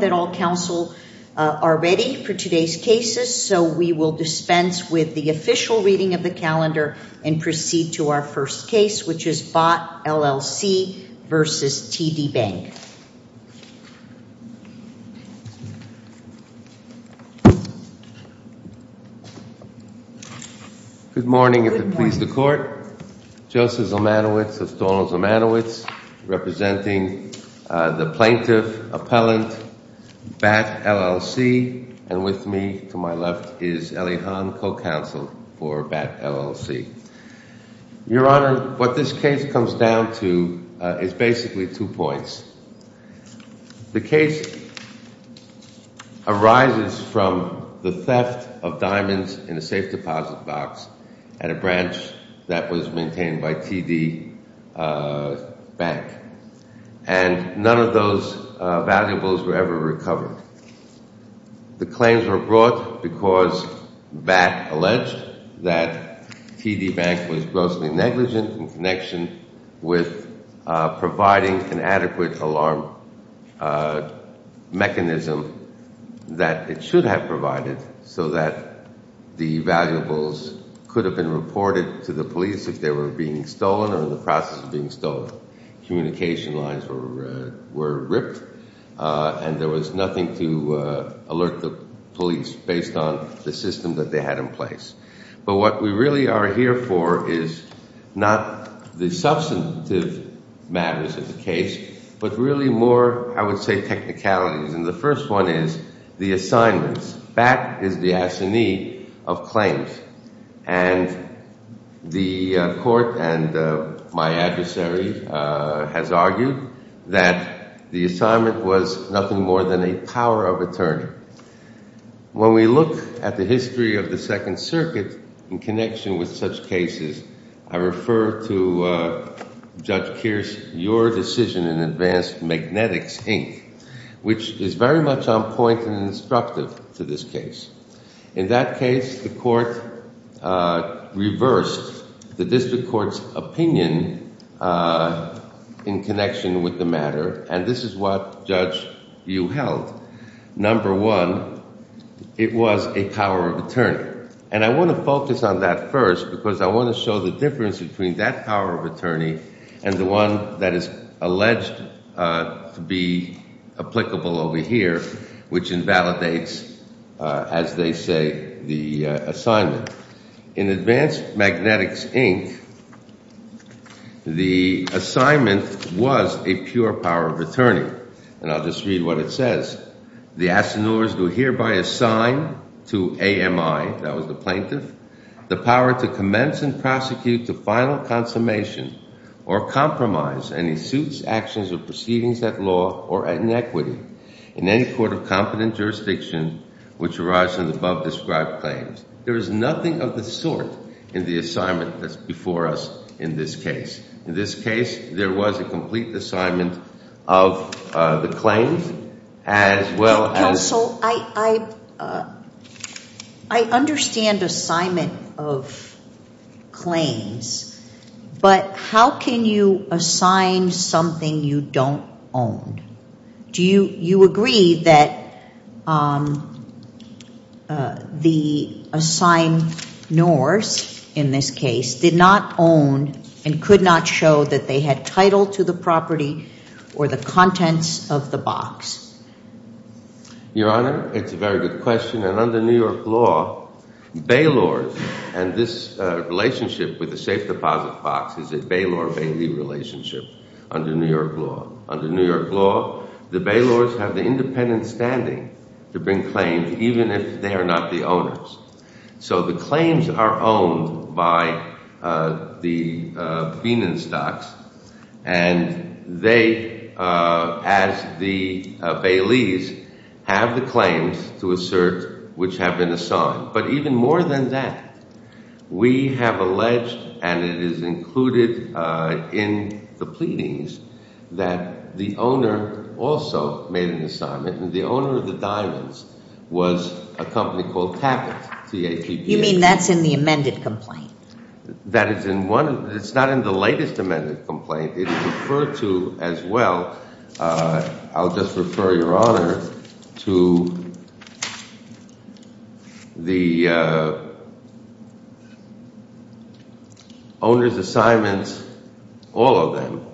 Good morning, if it pleases the Court, Joseph Zalmanowicz of Stonel's Zalmanowicz, representing the plaintiff, appellant, BAT LLC, and with me to my left is Elihan, co-counsel for BAT LLC. Your Honor, what this case comes down to is basically two points. The case arises from the theft of diamonds in a safe deposit box at a branch that was maintained by TD Bank. And none of those valuables were ever recovered. The claims were brought because BAT alleged that TD Bank was grossly negligent in connection with providing an adequate alarm mechanism that it should have provided so that the valuables could have been reported to the police if they were being stolen or in the process of being stolen. So communication lines were ripped and there was nothing to alert the police based on the system that they had in place. But what we really are here for is not the substantive matters of the case, but really more, I would say, technicalities. And the first one is the assignments. BAT is the assignee of claims. And the Court and my adversary has argued that the assignment was nothing more than a power of attorney. When we look at the history of the Second Circuit in connection with such cases, I refer to Judge Kearse, your decision in Advanced Magnetics, Inc., which is very much on point and instructive to this case. In that case, the Court reversed the District Court's opinion in connection with the matter. And this is what Judge Yu held. Number one, it was a power of attorney. And I want to focus on that first because I want to show the difference between that power of attorney and the one that is alleged to be applicable over here, which invalidates, as they say, the assignment. In Advanced Magnetics, Inc., the assignment was a pure power of attorney. And I'll just read what it says. The assigneurs do hereby assign to AMI, that was the plaintiff, the power to commence and prosecute to final consummation or compromise any suits, actions, or proceedings that law or inequity in any court of competent jurisdiction which arise from the above-described claims. There is nothing of the sort in the assignment that's before us in this case. In this case, there was a complete assignment of the claims as well as— But how can you assign something you don't own? Do you agree that the assigneurs in this case did not own and could not show that they had title to the property or the contents of the box? Your Honor, it's a very good question. And under New York law, bailors and this relationship with the safe deposit box is a bailor-bailey relationship under New York law. The bailors have the independent standing to bring claims even if they are not the owners. So the claims are owned by the Bienenstocks, and they, as the baileys, have the claims to assert which have been assigned. But even more than that, we have alleged, and it is included in the pleadings, that the owner also made an assignment, and the owner of the diamonds was a company called Tappet, T-A-P-P-E-T. You mean that's in the amended complaint? That is in one—it's not in the latest amended complaint. It is referred to as well—I'll just refer, Your Honor, to the owner's assignments, all of them,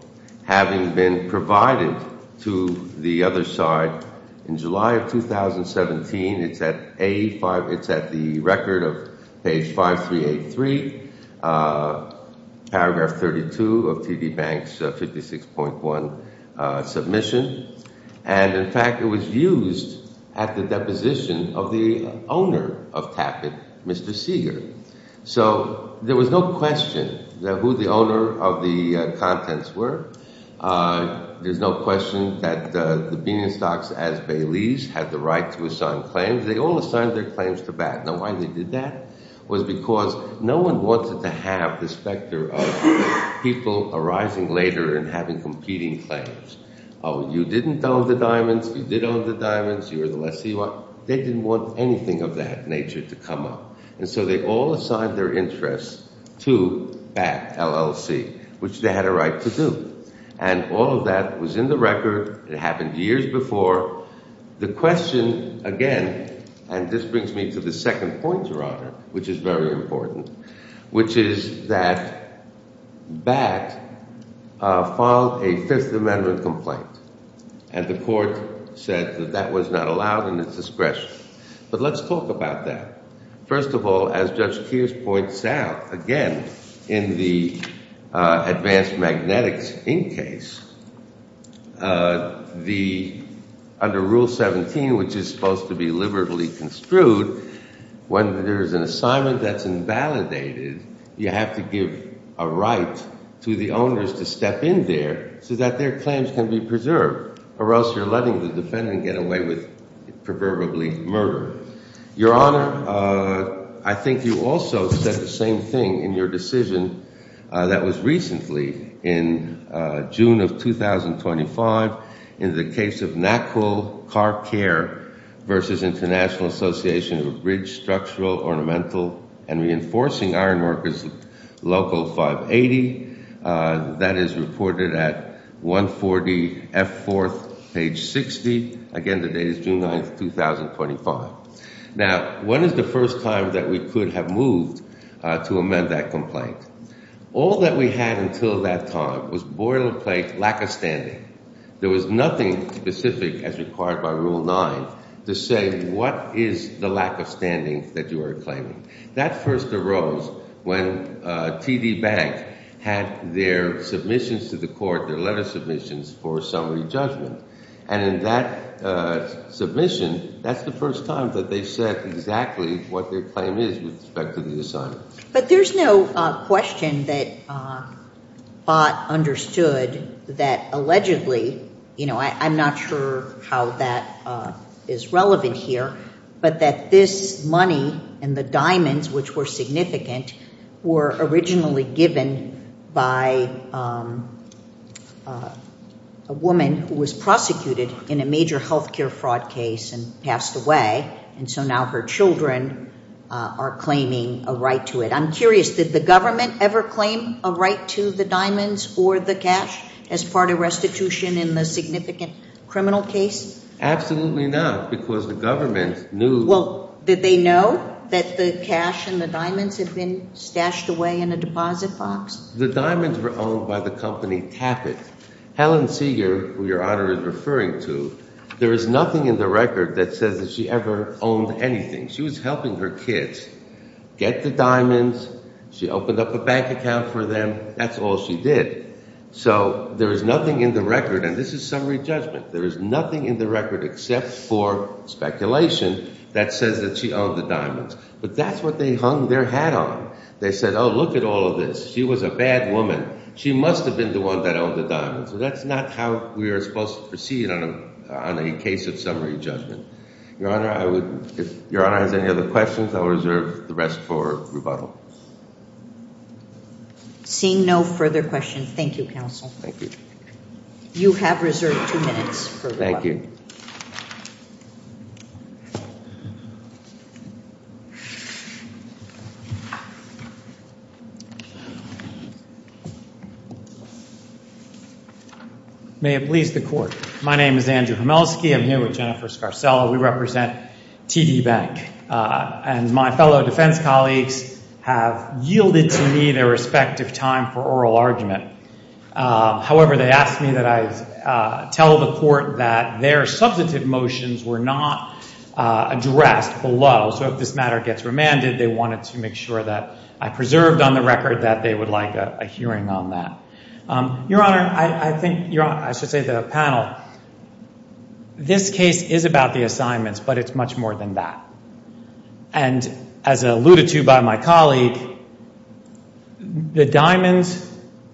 having been provided to the other side in July of 2017. It's at the record of page 5383, paragraph 32 of TD Bank's 56.1 submission. And, in fact, it was used at the deposition of the owner of Tappet, Mr. Seeger. So there was no question that who the owner of the contents were. There's no question that the Bienenstocks, as baileys, had the right to assign claims. They all assigned their claims to BAT. Now, why they did that was because no one wanted to have the specter of people arising later and having competing claims. Oh, you didn't own the diamonds. You did own the diamonds. You were the lessee. They didn't want anything of that nature to come up. And so they all assigned their interests to BAT, LLC, which they had a right to do. And all of that was in the record. It happened years before. The question, again, and this brings me to the second point, Your Honor, which is very important, which is that BAT filed a Fifth Amendment complaint. And the court said that that was not allowed in its discretion. But let's talk about that. First of all, as Judge Keirs points out, again, in the advanced magnetics in case, under Rule 17, which is supposed to be liberally construed, when there is an assignment that's invalidated, you have to give a right to the owners to step in there so that their claims can be preserved, or else you're letting the defendant get away with proverbially murder. Your Honor, I think you also said the same thing in your decision that was recently in June of 2025 in the case of NACL Car Care versus International Association of Bridge Structural, Ornamental, and Reinforcing Ironworkers Local 580. That is reported at 140F4, page 60. Again, the date is June 9, 2025. Now, when is the first time that we could have moved to amend that complaint? All that we had until that time was boilerplate lack of standing. There was nothing specific as required by Rule 9 to say what is the lack of standing that you are claiming. That first arose when TD Bank had their submissions to the court, their letter submissions for summary judgment. And in that submission, that's the first time that they said exactly what their claim is with respect to the assignment. But there's no question that Ott understood that allegedly, you know, I'm not sure how that is relevant here, but that this money and the diamonds, which were significant, were originally given by a woman who was prosecuted in a major health care fraud case and passed away. And so now her children are claiming a right to it. I'm curious, did the government ever claim a right to the diamonds or the cash as part of restitution in the significant criminal case? Absolutely not, because the government knew. Well, did they know that the cash and the diamonds had been stashed away in a deposit box? The diamonds were owned by the company Tappet. Helen Seeger, who Your Honor is referring to, there is nothing in the record that says that she ever owned anything. She was helping her kids get the diamonds. She opened up a bank account for them. That's all she did. So there is nothing in the record, and this is summary judgment, there is nothing in the record except for speculation that says that she owned the diamonds. But that's what they hung their hat on. They said, oh, look at all of this. She was a bad woman. She must have been the one that owned the diamonds. So that's not how we are supposed to proceed on a case of summary judgment. Your Honor, if Your Honor has any other questions, I will reserve the rest for rebuttal. Seeing no further questions, thank you, Counsel. Thank you. You have reserved two minutes for rebuttal. Thank you. May it please the Court. My name is Andrew Homelsky. I'm here with Jennifer Scarcella. We represent TD Bank. And my fellow defense colleagues have yielded to me their respective time for oral argument. However, they asked me that I tell the Court that their substantive motions were not addressed below. So if this matter gets remanded, they wanted to make sure that I preserved on the record that they would like a hearing on that. Your Honor, I should say to the panel, this case is about the assignments, but it's much more than that. And as alluded to by my colleague, the diamonds,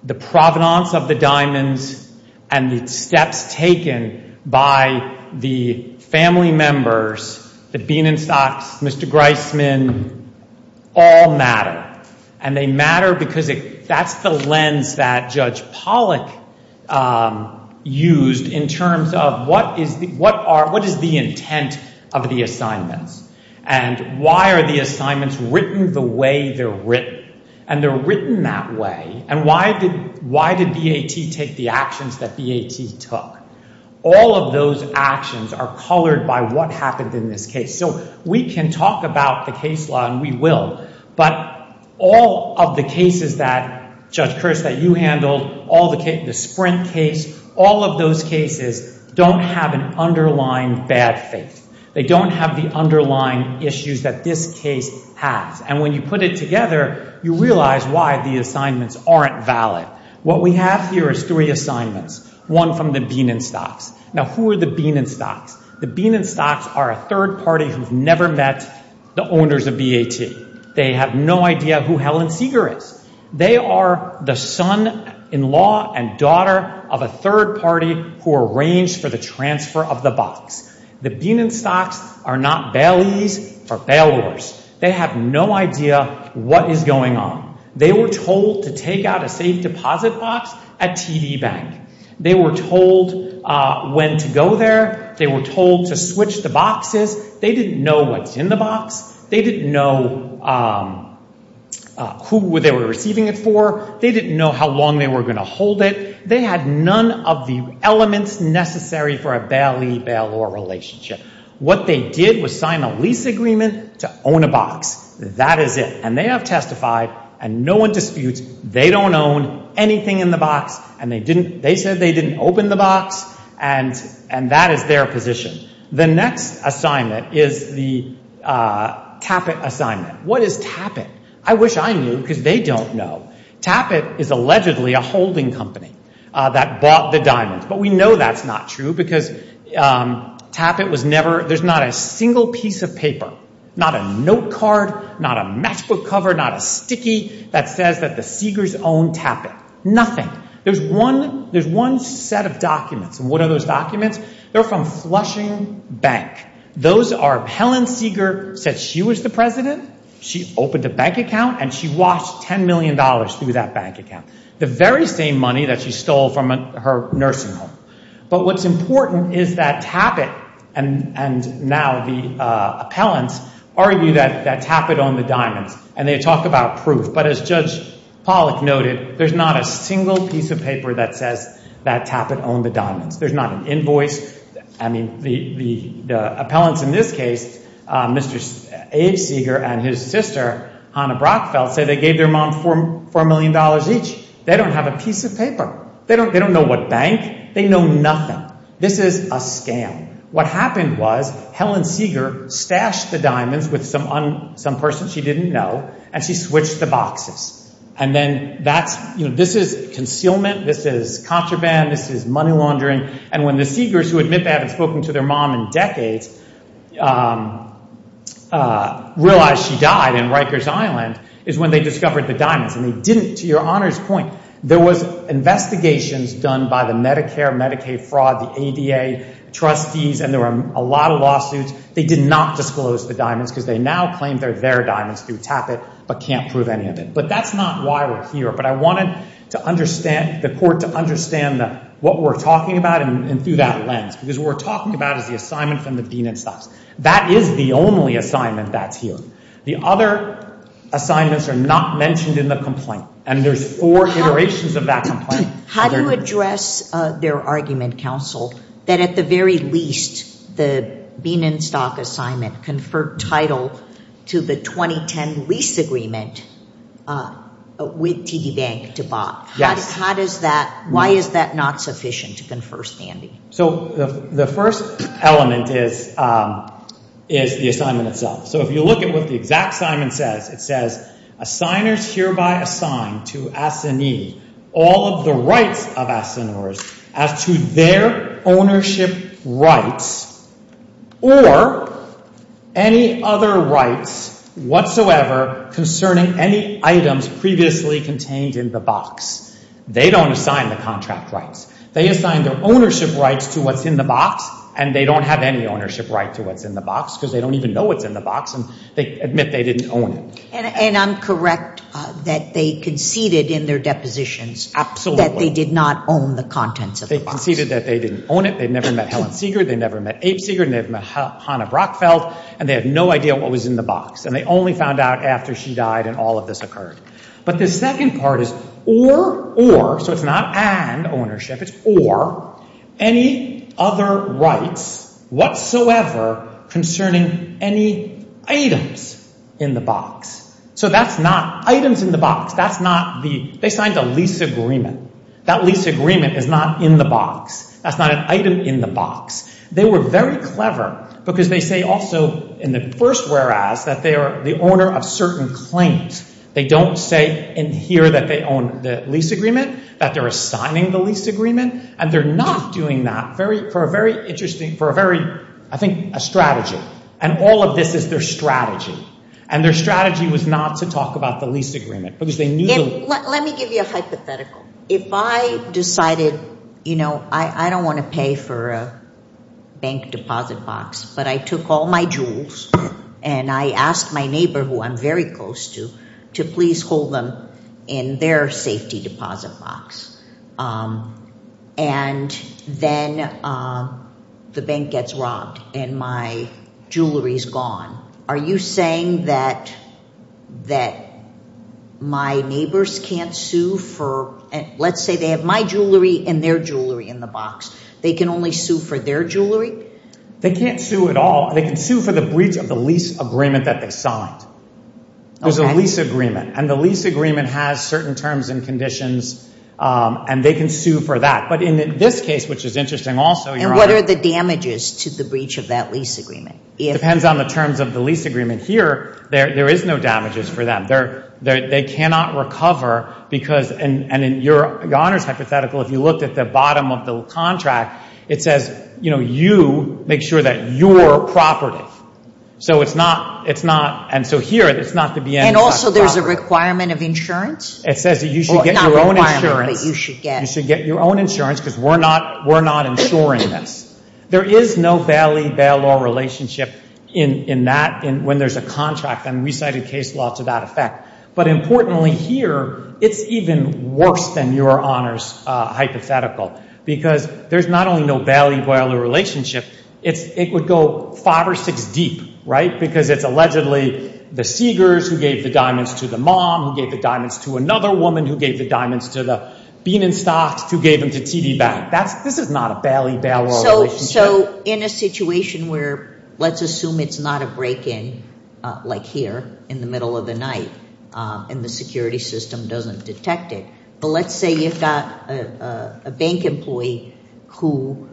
the provenance of the diamonds, and the steps taken by the family members, the Bienenstocks, Mr. Greisman, all matter. And they matter because that's the lens that Judge Pollack used in terms of what is the intent of the assignments. And why are the assignments written the way they're written? And they're written that way, and why did BAT take the actions that BAT took? All of those actions are colored by what happened in this case. So we can talk about the case law, and we will, but all of the cases that Judge Kearse, that you handled, the Sprint case, all of those cases don't have an underlying bad faith. They don't have the underlying issues that this case has. And when you put it together, you realize why the assignments aren't valid. What we have here is three assignments, one from the Bienenstocks. Now, who are the Bienenstocks? The Bienenstocks are a third party who've never met the owners of BAT. They have no idea who Helen Seeger is. They are the son-in-law and daughter of a third party who arranged for the transfer of the box. The Bienenstocks are not bailees or bailors. They have no idea what is going on. They were told to take out a safe deposit box at TD Bank. They were told when to go there. They were told to switch the boxes. They didn't know what's in the box. They didn't know who they were receiving it for. They didn't know how long they were going to hold it. They had none of the elements necessary for a bailee-bailor relationship. What they did was sign a lease agreement to own a box. That is it. And they have testified, and no one disputes, they don't own anything in the box, and they said they didn't open the box, and that is their position. The next assignment is the Tappet assignment. What is Tappet? I wish I knew because they don't know. Tappet is allegedly a holding company that bought the diamonds, but we know that's not true because Tappet was never, there's not a single piece of paper, not a note card, not a matchbook cover, not a sticky that says that the Seegers own Tappet. Nothing. There's one set of documents, and what are those documents? They're from Flushing Bank. Those are, Helen Seeger said she was the president, she opened a bank account, and she washed $10 million through that bank account, the very same money that she stole from her nursing home. But what's important is that Tappet, and now the appellants, argue that Tappet owned the diamonds, and they talk about proof. But as Judge Pollack noted, there's not a single piece of paper that says that Tappet owned the diamonds. There's not an invoice. I mean, the appellants in this case, Mr. A. Seeger and his sister, Hannah Brockfeld, say they gave their mom $4 million each. They don't have a piece of paper. They don't know what bank. They know nothing. This is a scam. What happened was Helen Seeger stashed the diamonds with some person she didn't know, and she switched the boxes. And then that's, you know, this is concealment. This is contraband. This is money laundering. And when the Seegers, who admit they haven't spoken to their mom in decades, realized she died in Rikers Island is when they discovered the diamonds. And they didn't, to your Honor's point. There was investigations done by the Medicare, Medicaid fraud, the ADA trustees, and there were a lot of lawsuits. They did not disclose the diamonds because they now claim they're their diamonds through TAPIT but can't prove any of it. But that's not why we're here. But I wanted to understand, the court, to understand what we're talking about and through that lens because what we're talking about is the assignment from the Bean & Sucks. That is the only assignment that's here. The other assignments are not mentioned in the complaint. And there's four iterations of that complaint. How do you address their argument, counsel, that at the very least the Bean & Stock assignment conferred title to the 2010 lease agreement with TD Bank to Bob? Yes. How does that, why is that not sufficient to confer standing? So the first element is the assignment itself. So if you look at what the exact assignment says, it says, signers hereby assign to S&E all of the rights of S&Ers as to their ownership rights or any other rights whatsoever concerning any items previously contained in the box. They don't assign the contract rights. They assign their ownership rights to what's in the box and they don't have any ownership right to what's in the box because they don't even know what's in the box and they admit they didn't own it. And I'm correct that they conceded in their depositions. That they did not own the contents of the box. They conceded that they didn't own it, they'd never met Helen Seeger, they'd never met Abe Seeger, they'd never met Hannah Brockfeld, and they had no idea what was in the box. And they only found out after she died and all of this occurred. But the second part is or, or, so it's not and ownership, it's or, any other rights whatsoever concerning any items in the box. So that's not items in the box. That's not the, they signed a lease agreement. That lease agreement is not in the box. That's not an item in the box. They were very clever because they say also in the first whereas that they are the owner of certain claims. They don't say in here that they own the lease agreement, that they're assigning the lease agreement, and they're not doing that very, for a very interesting, for a very, I think, a strategy. And all of this is their strategy. And their strategy was not to talk about the lease agreement because they knew that. Let me give you a hypothetical. If I decided, you know, I don't want to pay for a bank deposit box, but I took all my jewels and I asked my neighbor who I'm very close to to please hold them in their safety deposit box. And then the bank gets robbed and my jewelry is gone. Are you saying that my neighbors can't sue for, let's say they have my jewelry and their jewelry in the box, they can only sue for their jewelry? They can't sue at all. They can sue for the breach of the lease agreement that they signed. There's a lease agreement. And the lease agreement has certain terms and conditions, and they can sue for that. But in this case, which is interesting also, Your Honor. And what are the damages to the breach of that lease agreement? It depends on the terms of the lease agreement. Here, there is no damages for them. They cannot recover because, and in Your Honor's hypothetical, if you looked at the bottom of the contract, it says, you know, you make sure that you're property. So it's not, it's not, and so here it's not to be any type of property. And also there's a requirement of insurance? It says that you should get your own insurance. Well, it's not a requirement, but you should get. You should get your own insurance because we're not insuring this. There is no bailee-bailor relationship in that, when there's a contract, and we cited case law to that effect. But importantly here, it's even worse than Your Honor's hypothetical because there's not only no bailee-bailor relationship, it would go five or six deep, right? Because it's allegedly the Seegers who gave the diamonds to the mom, who gave the diamonds to another woman, who gave the diamonds to the Bean & Stocks, who gave them to TV Bank. This is not a bailee-bailor relationship. So in a situation where, let's assume it's not a break-in, like here, in the middle of the night, and the security system doesn't detect it, but let's say you've got a bank employee who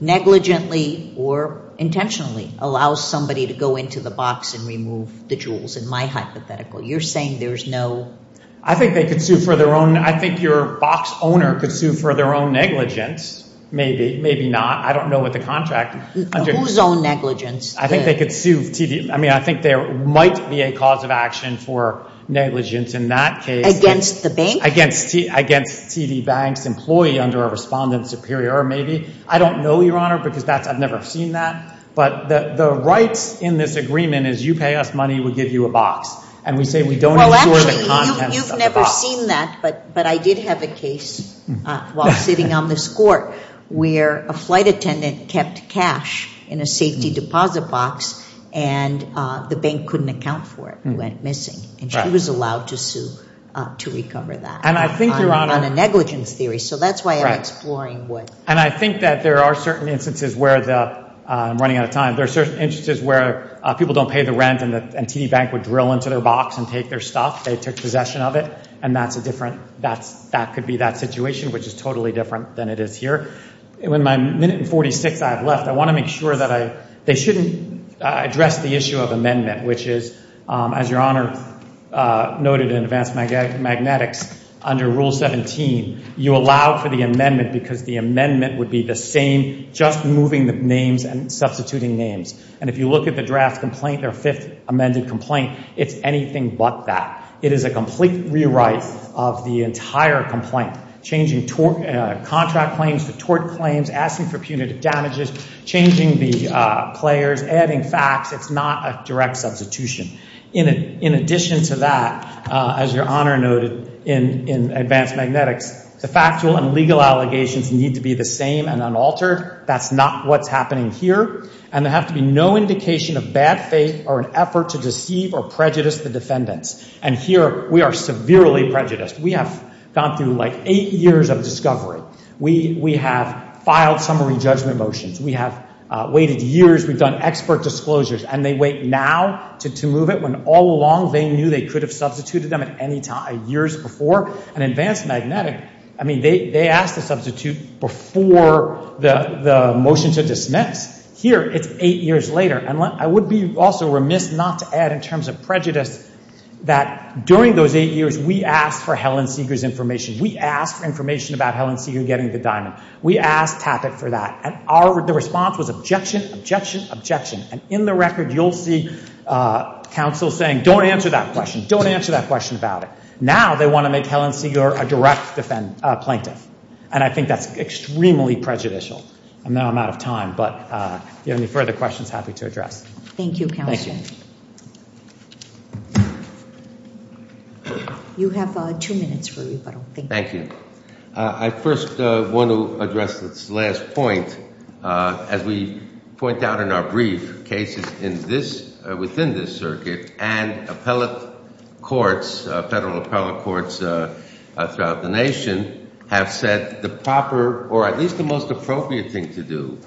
negligently or intentionally allows somebody to go into the box and remove the jewels in my hypothetical. You're saying there's no... I think they could sue for their own... I think your box owner could sue for their own negligence, maybe, maybe not. I don't know what the contract... Whose own negligence? I think they could sue TV... I mean, I think there might be a cause of action for negligence in that case. Against the bank? Against TV Bank's employee under a respondent superior, maybe. I don't know, Your Honor, because I've never seen that. But the rights in this agreement is you pay us money, we give you a box. And we say we don't insure the contents of the box. Well, actually, you've never seen that, but I did have a case while sitting on this court where a flight attendant kept cash in a safety deposit box and the bank couldn't account for it. And she was allowed to sue to recover that on a negligence theory. So that's why I'm exploring what... And I think that there are certain instances where the... I'm running out of time. There are certain instances where people don't pay the rent and TV Bank would drill into their box and take their stuff. They took possession of it, and that's a different... That could be that situation, which is totally different than it is here. In my minute and 46 I have left, I want to make sure that I... They shouldn't address the issue of amendment, which is, as Your Honor noted in Advanced Magnetics, under Rule 17 you allow for the amendment because the amendment would be the same, just moving the names and substituting names. And if you look at the draft complaint, their fifth amended complaint, it's anything but that. It is a complete rewrite of the entire complaint, changing contract claims to tort claims, asking for punitive damages, changing the players, adding facts. It's not a direct substitution. In addition to that, as Your Honor noted in Advanced Magnetics, the factual and legal allegations need to be the same and unaltered. That's not what's happening here. And there has to be no indication of bad faith or an effort to deceive or prejudice the defendants. And here we are severely prejudiced. We have gone through like eight years of discovery. We have filed summary judgment motions. We have waited years. We've done expert disclosures. And they wait now to move it when all along they knew they could have substituted them at any time, years before. And Advanced Magnetics, I mean, they asked to substitute before the motion to dismiss. Here it's eight years later. And I would be also remiss not to add in terms of prejudice that during those eight years we asked for Helen Seeger's information. We asked for information about Helen Seeger getting the diamond. We asked TAPIT for that. And the response was objection, objection, objection. And in the record you'll see counsel saying, don't answer that question, don't answer that question about it. Now they want to make Helen Seeger a direct plaintiff. And I think that's extremely prejudicial. I know I'm out of time, but if you have any further questions, happy to address. Thank you, Counselor. You have two minutes for rebuttal. Thank you. I first want to address this last point. As we point out in our brief, cases within this circuit and appellate courts, federal appellate courts throughout the nation, have said the proper, or at least the most appropriate thing to do,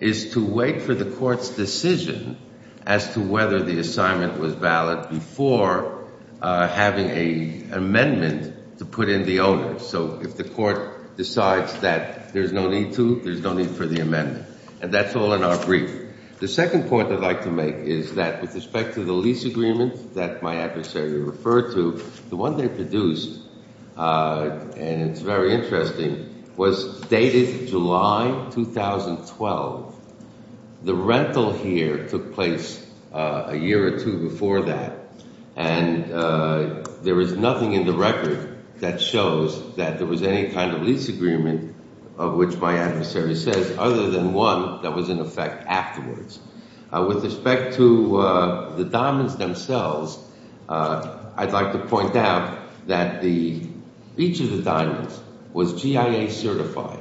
is to wait for the court's decision as to whether the assignment was valid before having an amendment to put in the owner. So if the court decides that there's no need to, there's no need for the amendment. And that's all in our brief. The second point I'd like to make is that with respect to the lease agreement that my adversary referred to, the one they produced, and it's very interesting, was dated July 2012. The rental here took place a year or two before that, and there is nothing in the record that shows that there was any kind of lease agreement, of which my adversary says, other than one that was in effect afterwards. With respect to the diamonds themselves, I'd like to point out that each of the diamonds was GIA certified.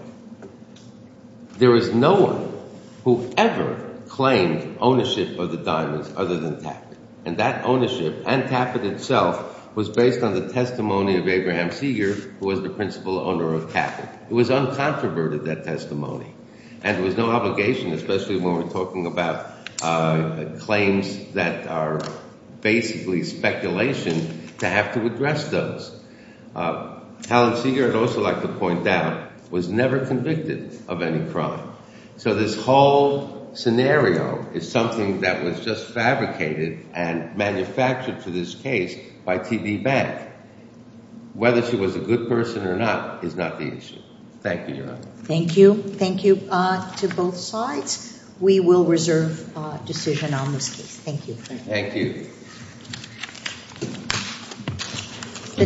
There was no one who ever claimed ownership of the diamonds other than Taffet. And that ownership, and Taffet itself, was based on the testimony of Abraham Seeger, who was the principal owner of Taffet. It was uncontroverted, that testimony. And there was no obligation, especially when we're talking about claims that are basically speculation, to have to address those. Helen Seeger, I'd also like to point out, was never convicted of any crime. So this whole scenario is something that was just fabricated and manufactured to this case by TD Bank. Whether she was a good person or not is not the issue. Thank you, Your Honor. Thank you. Thank you to both sides. We will reserve decision on this case. Thank you. Thank you.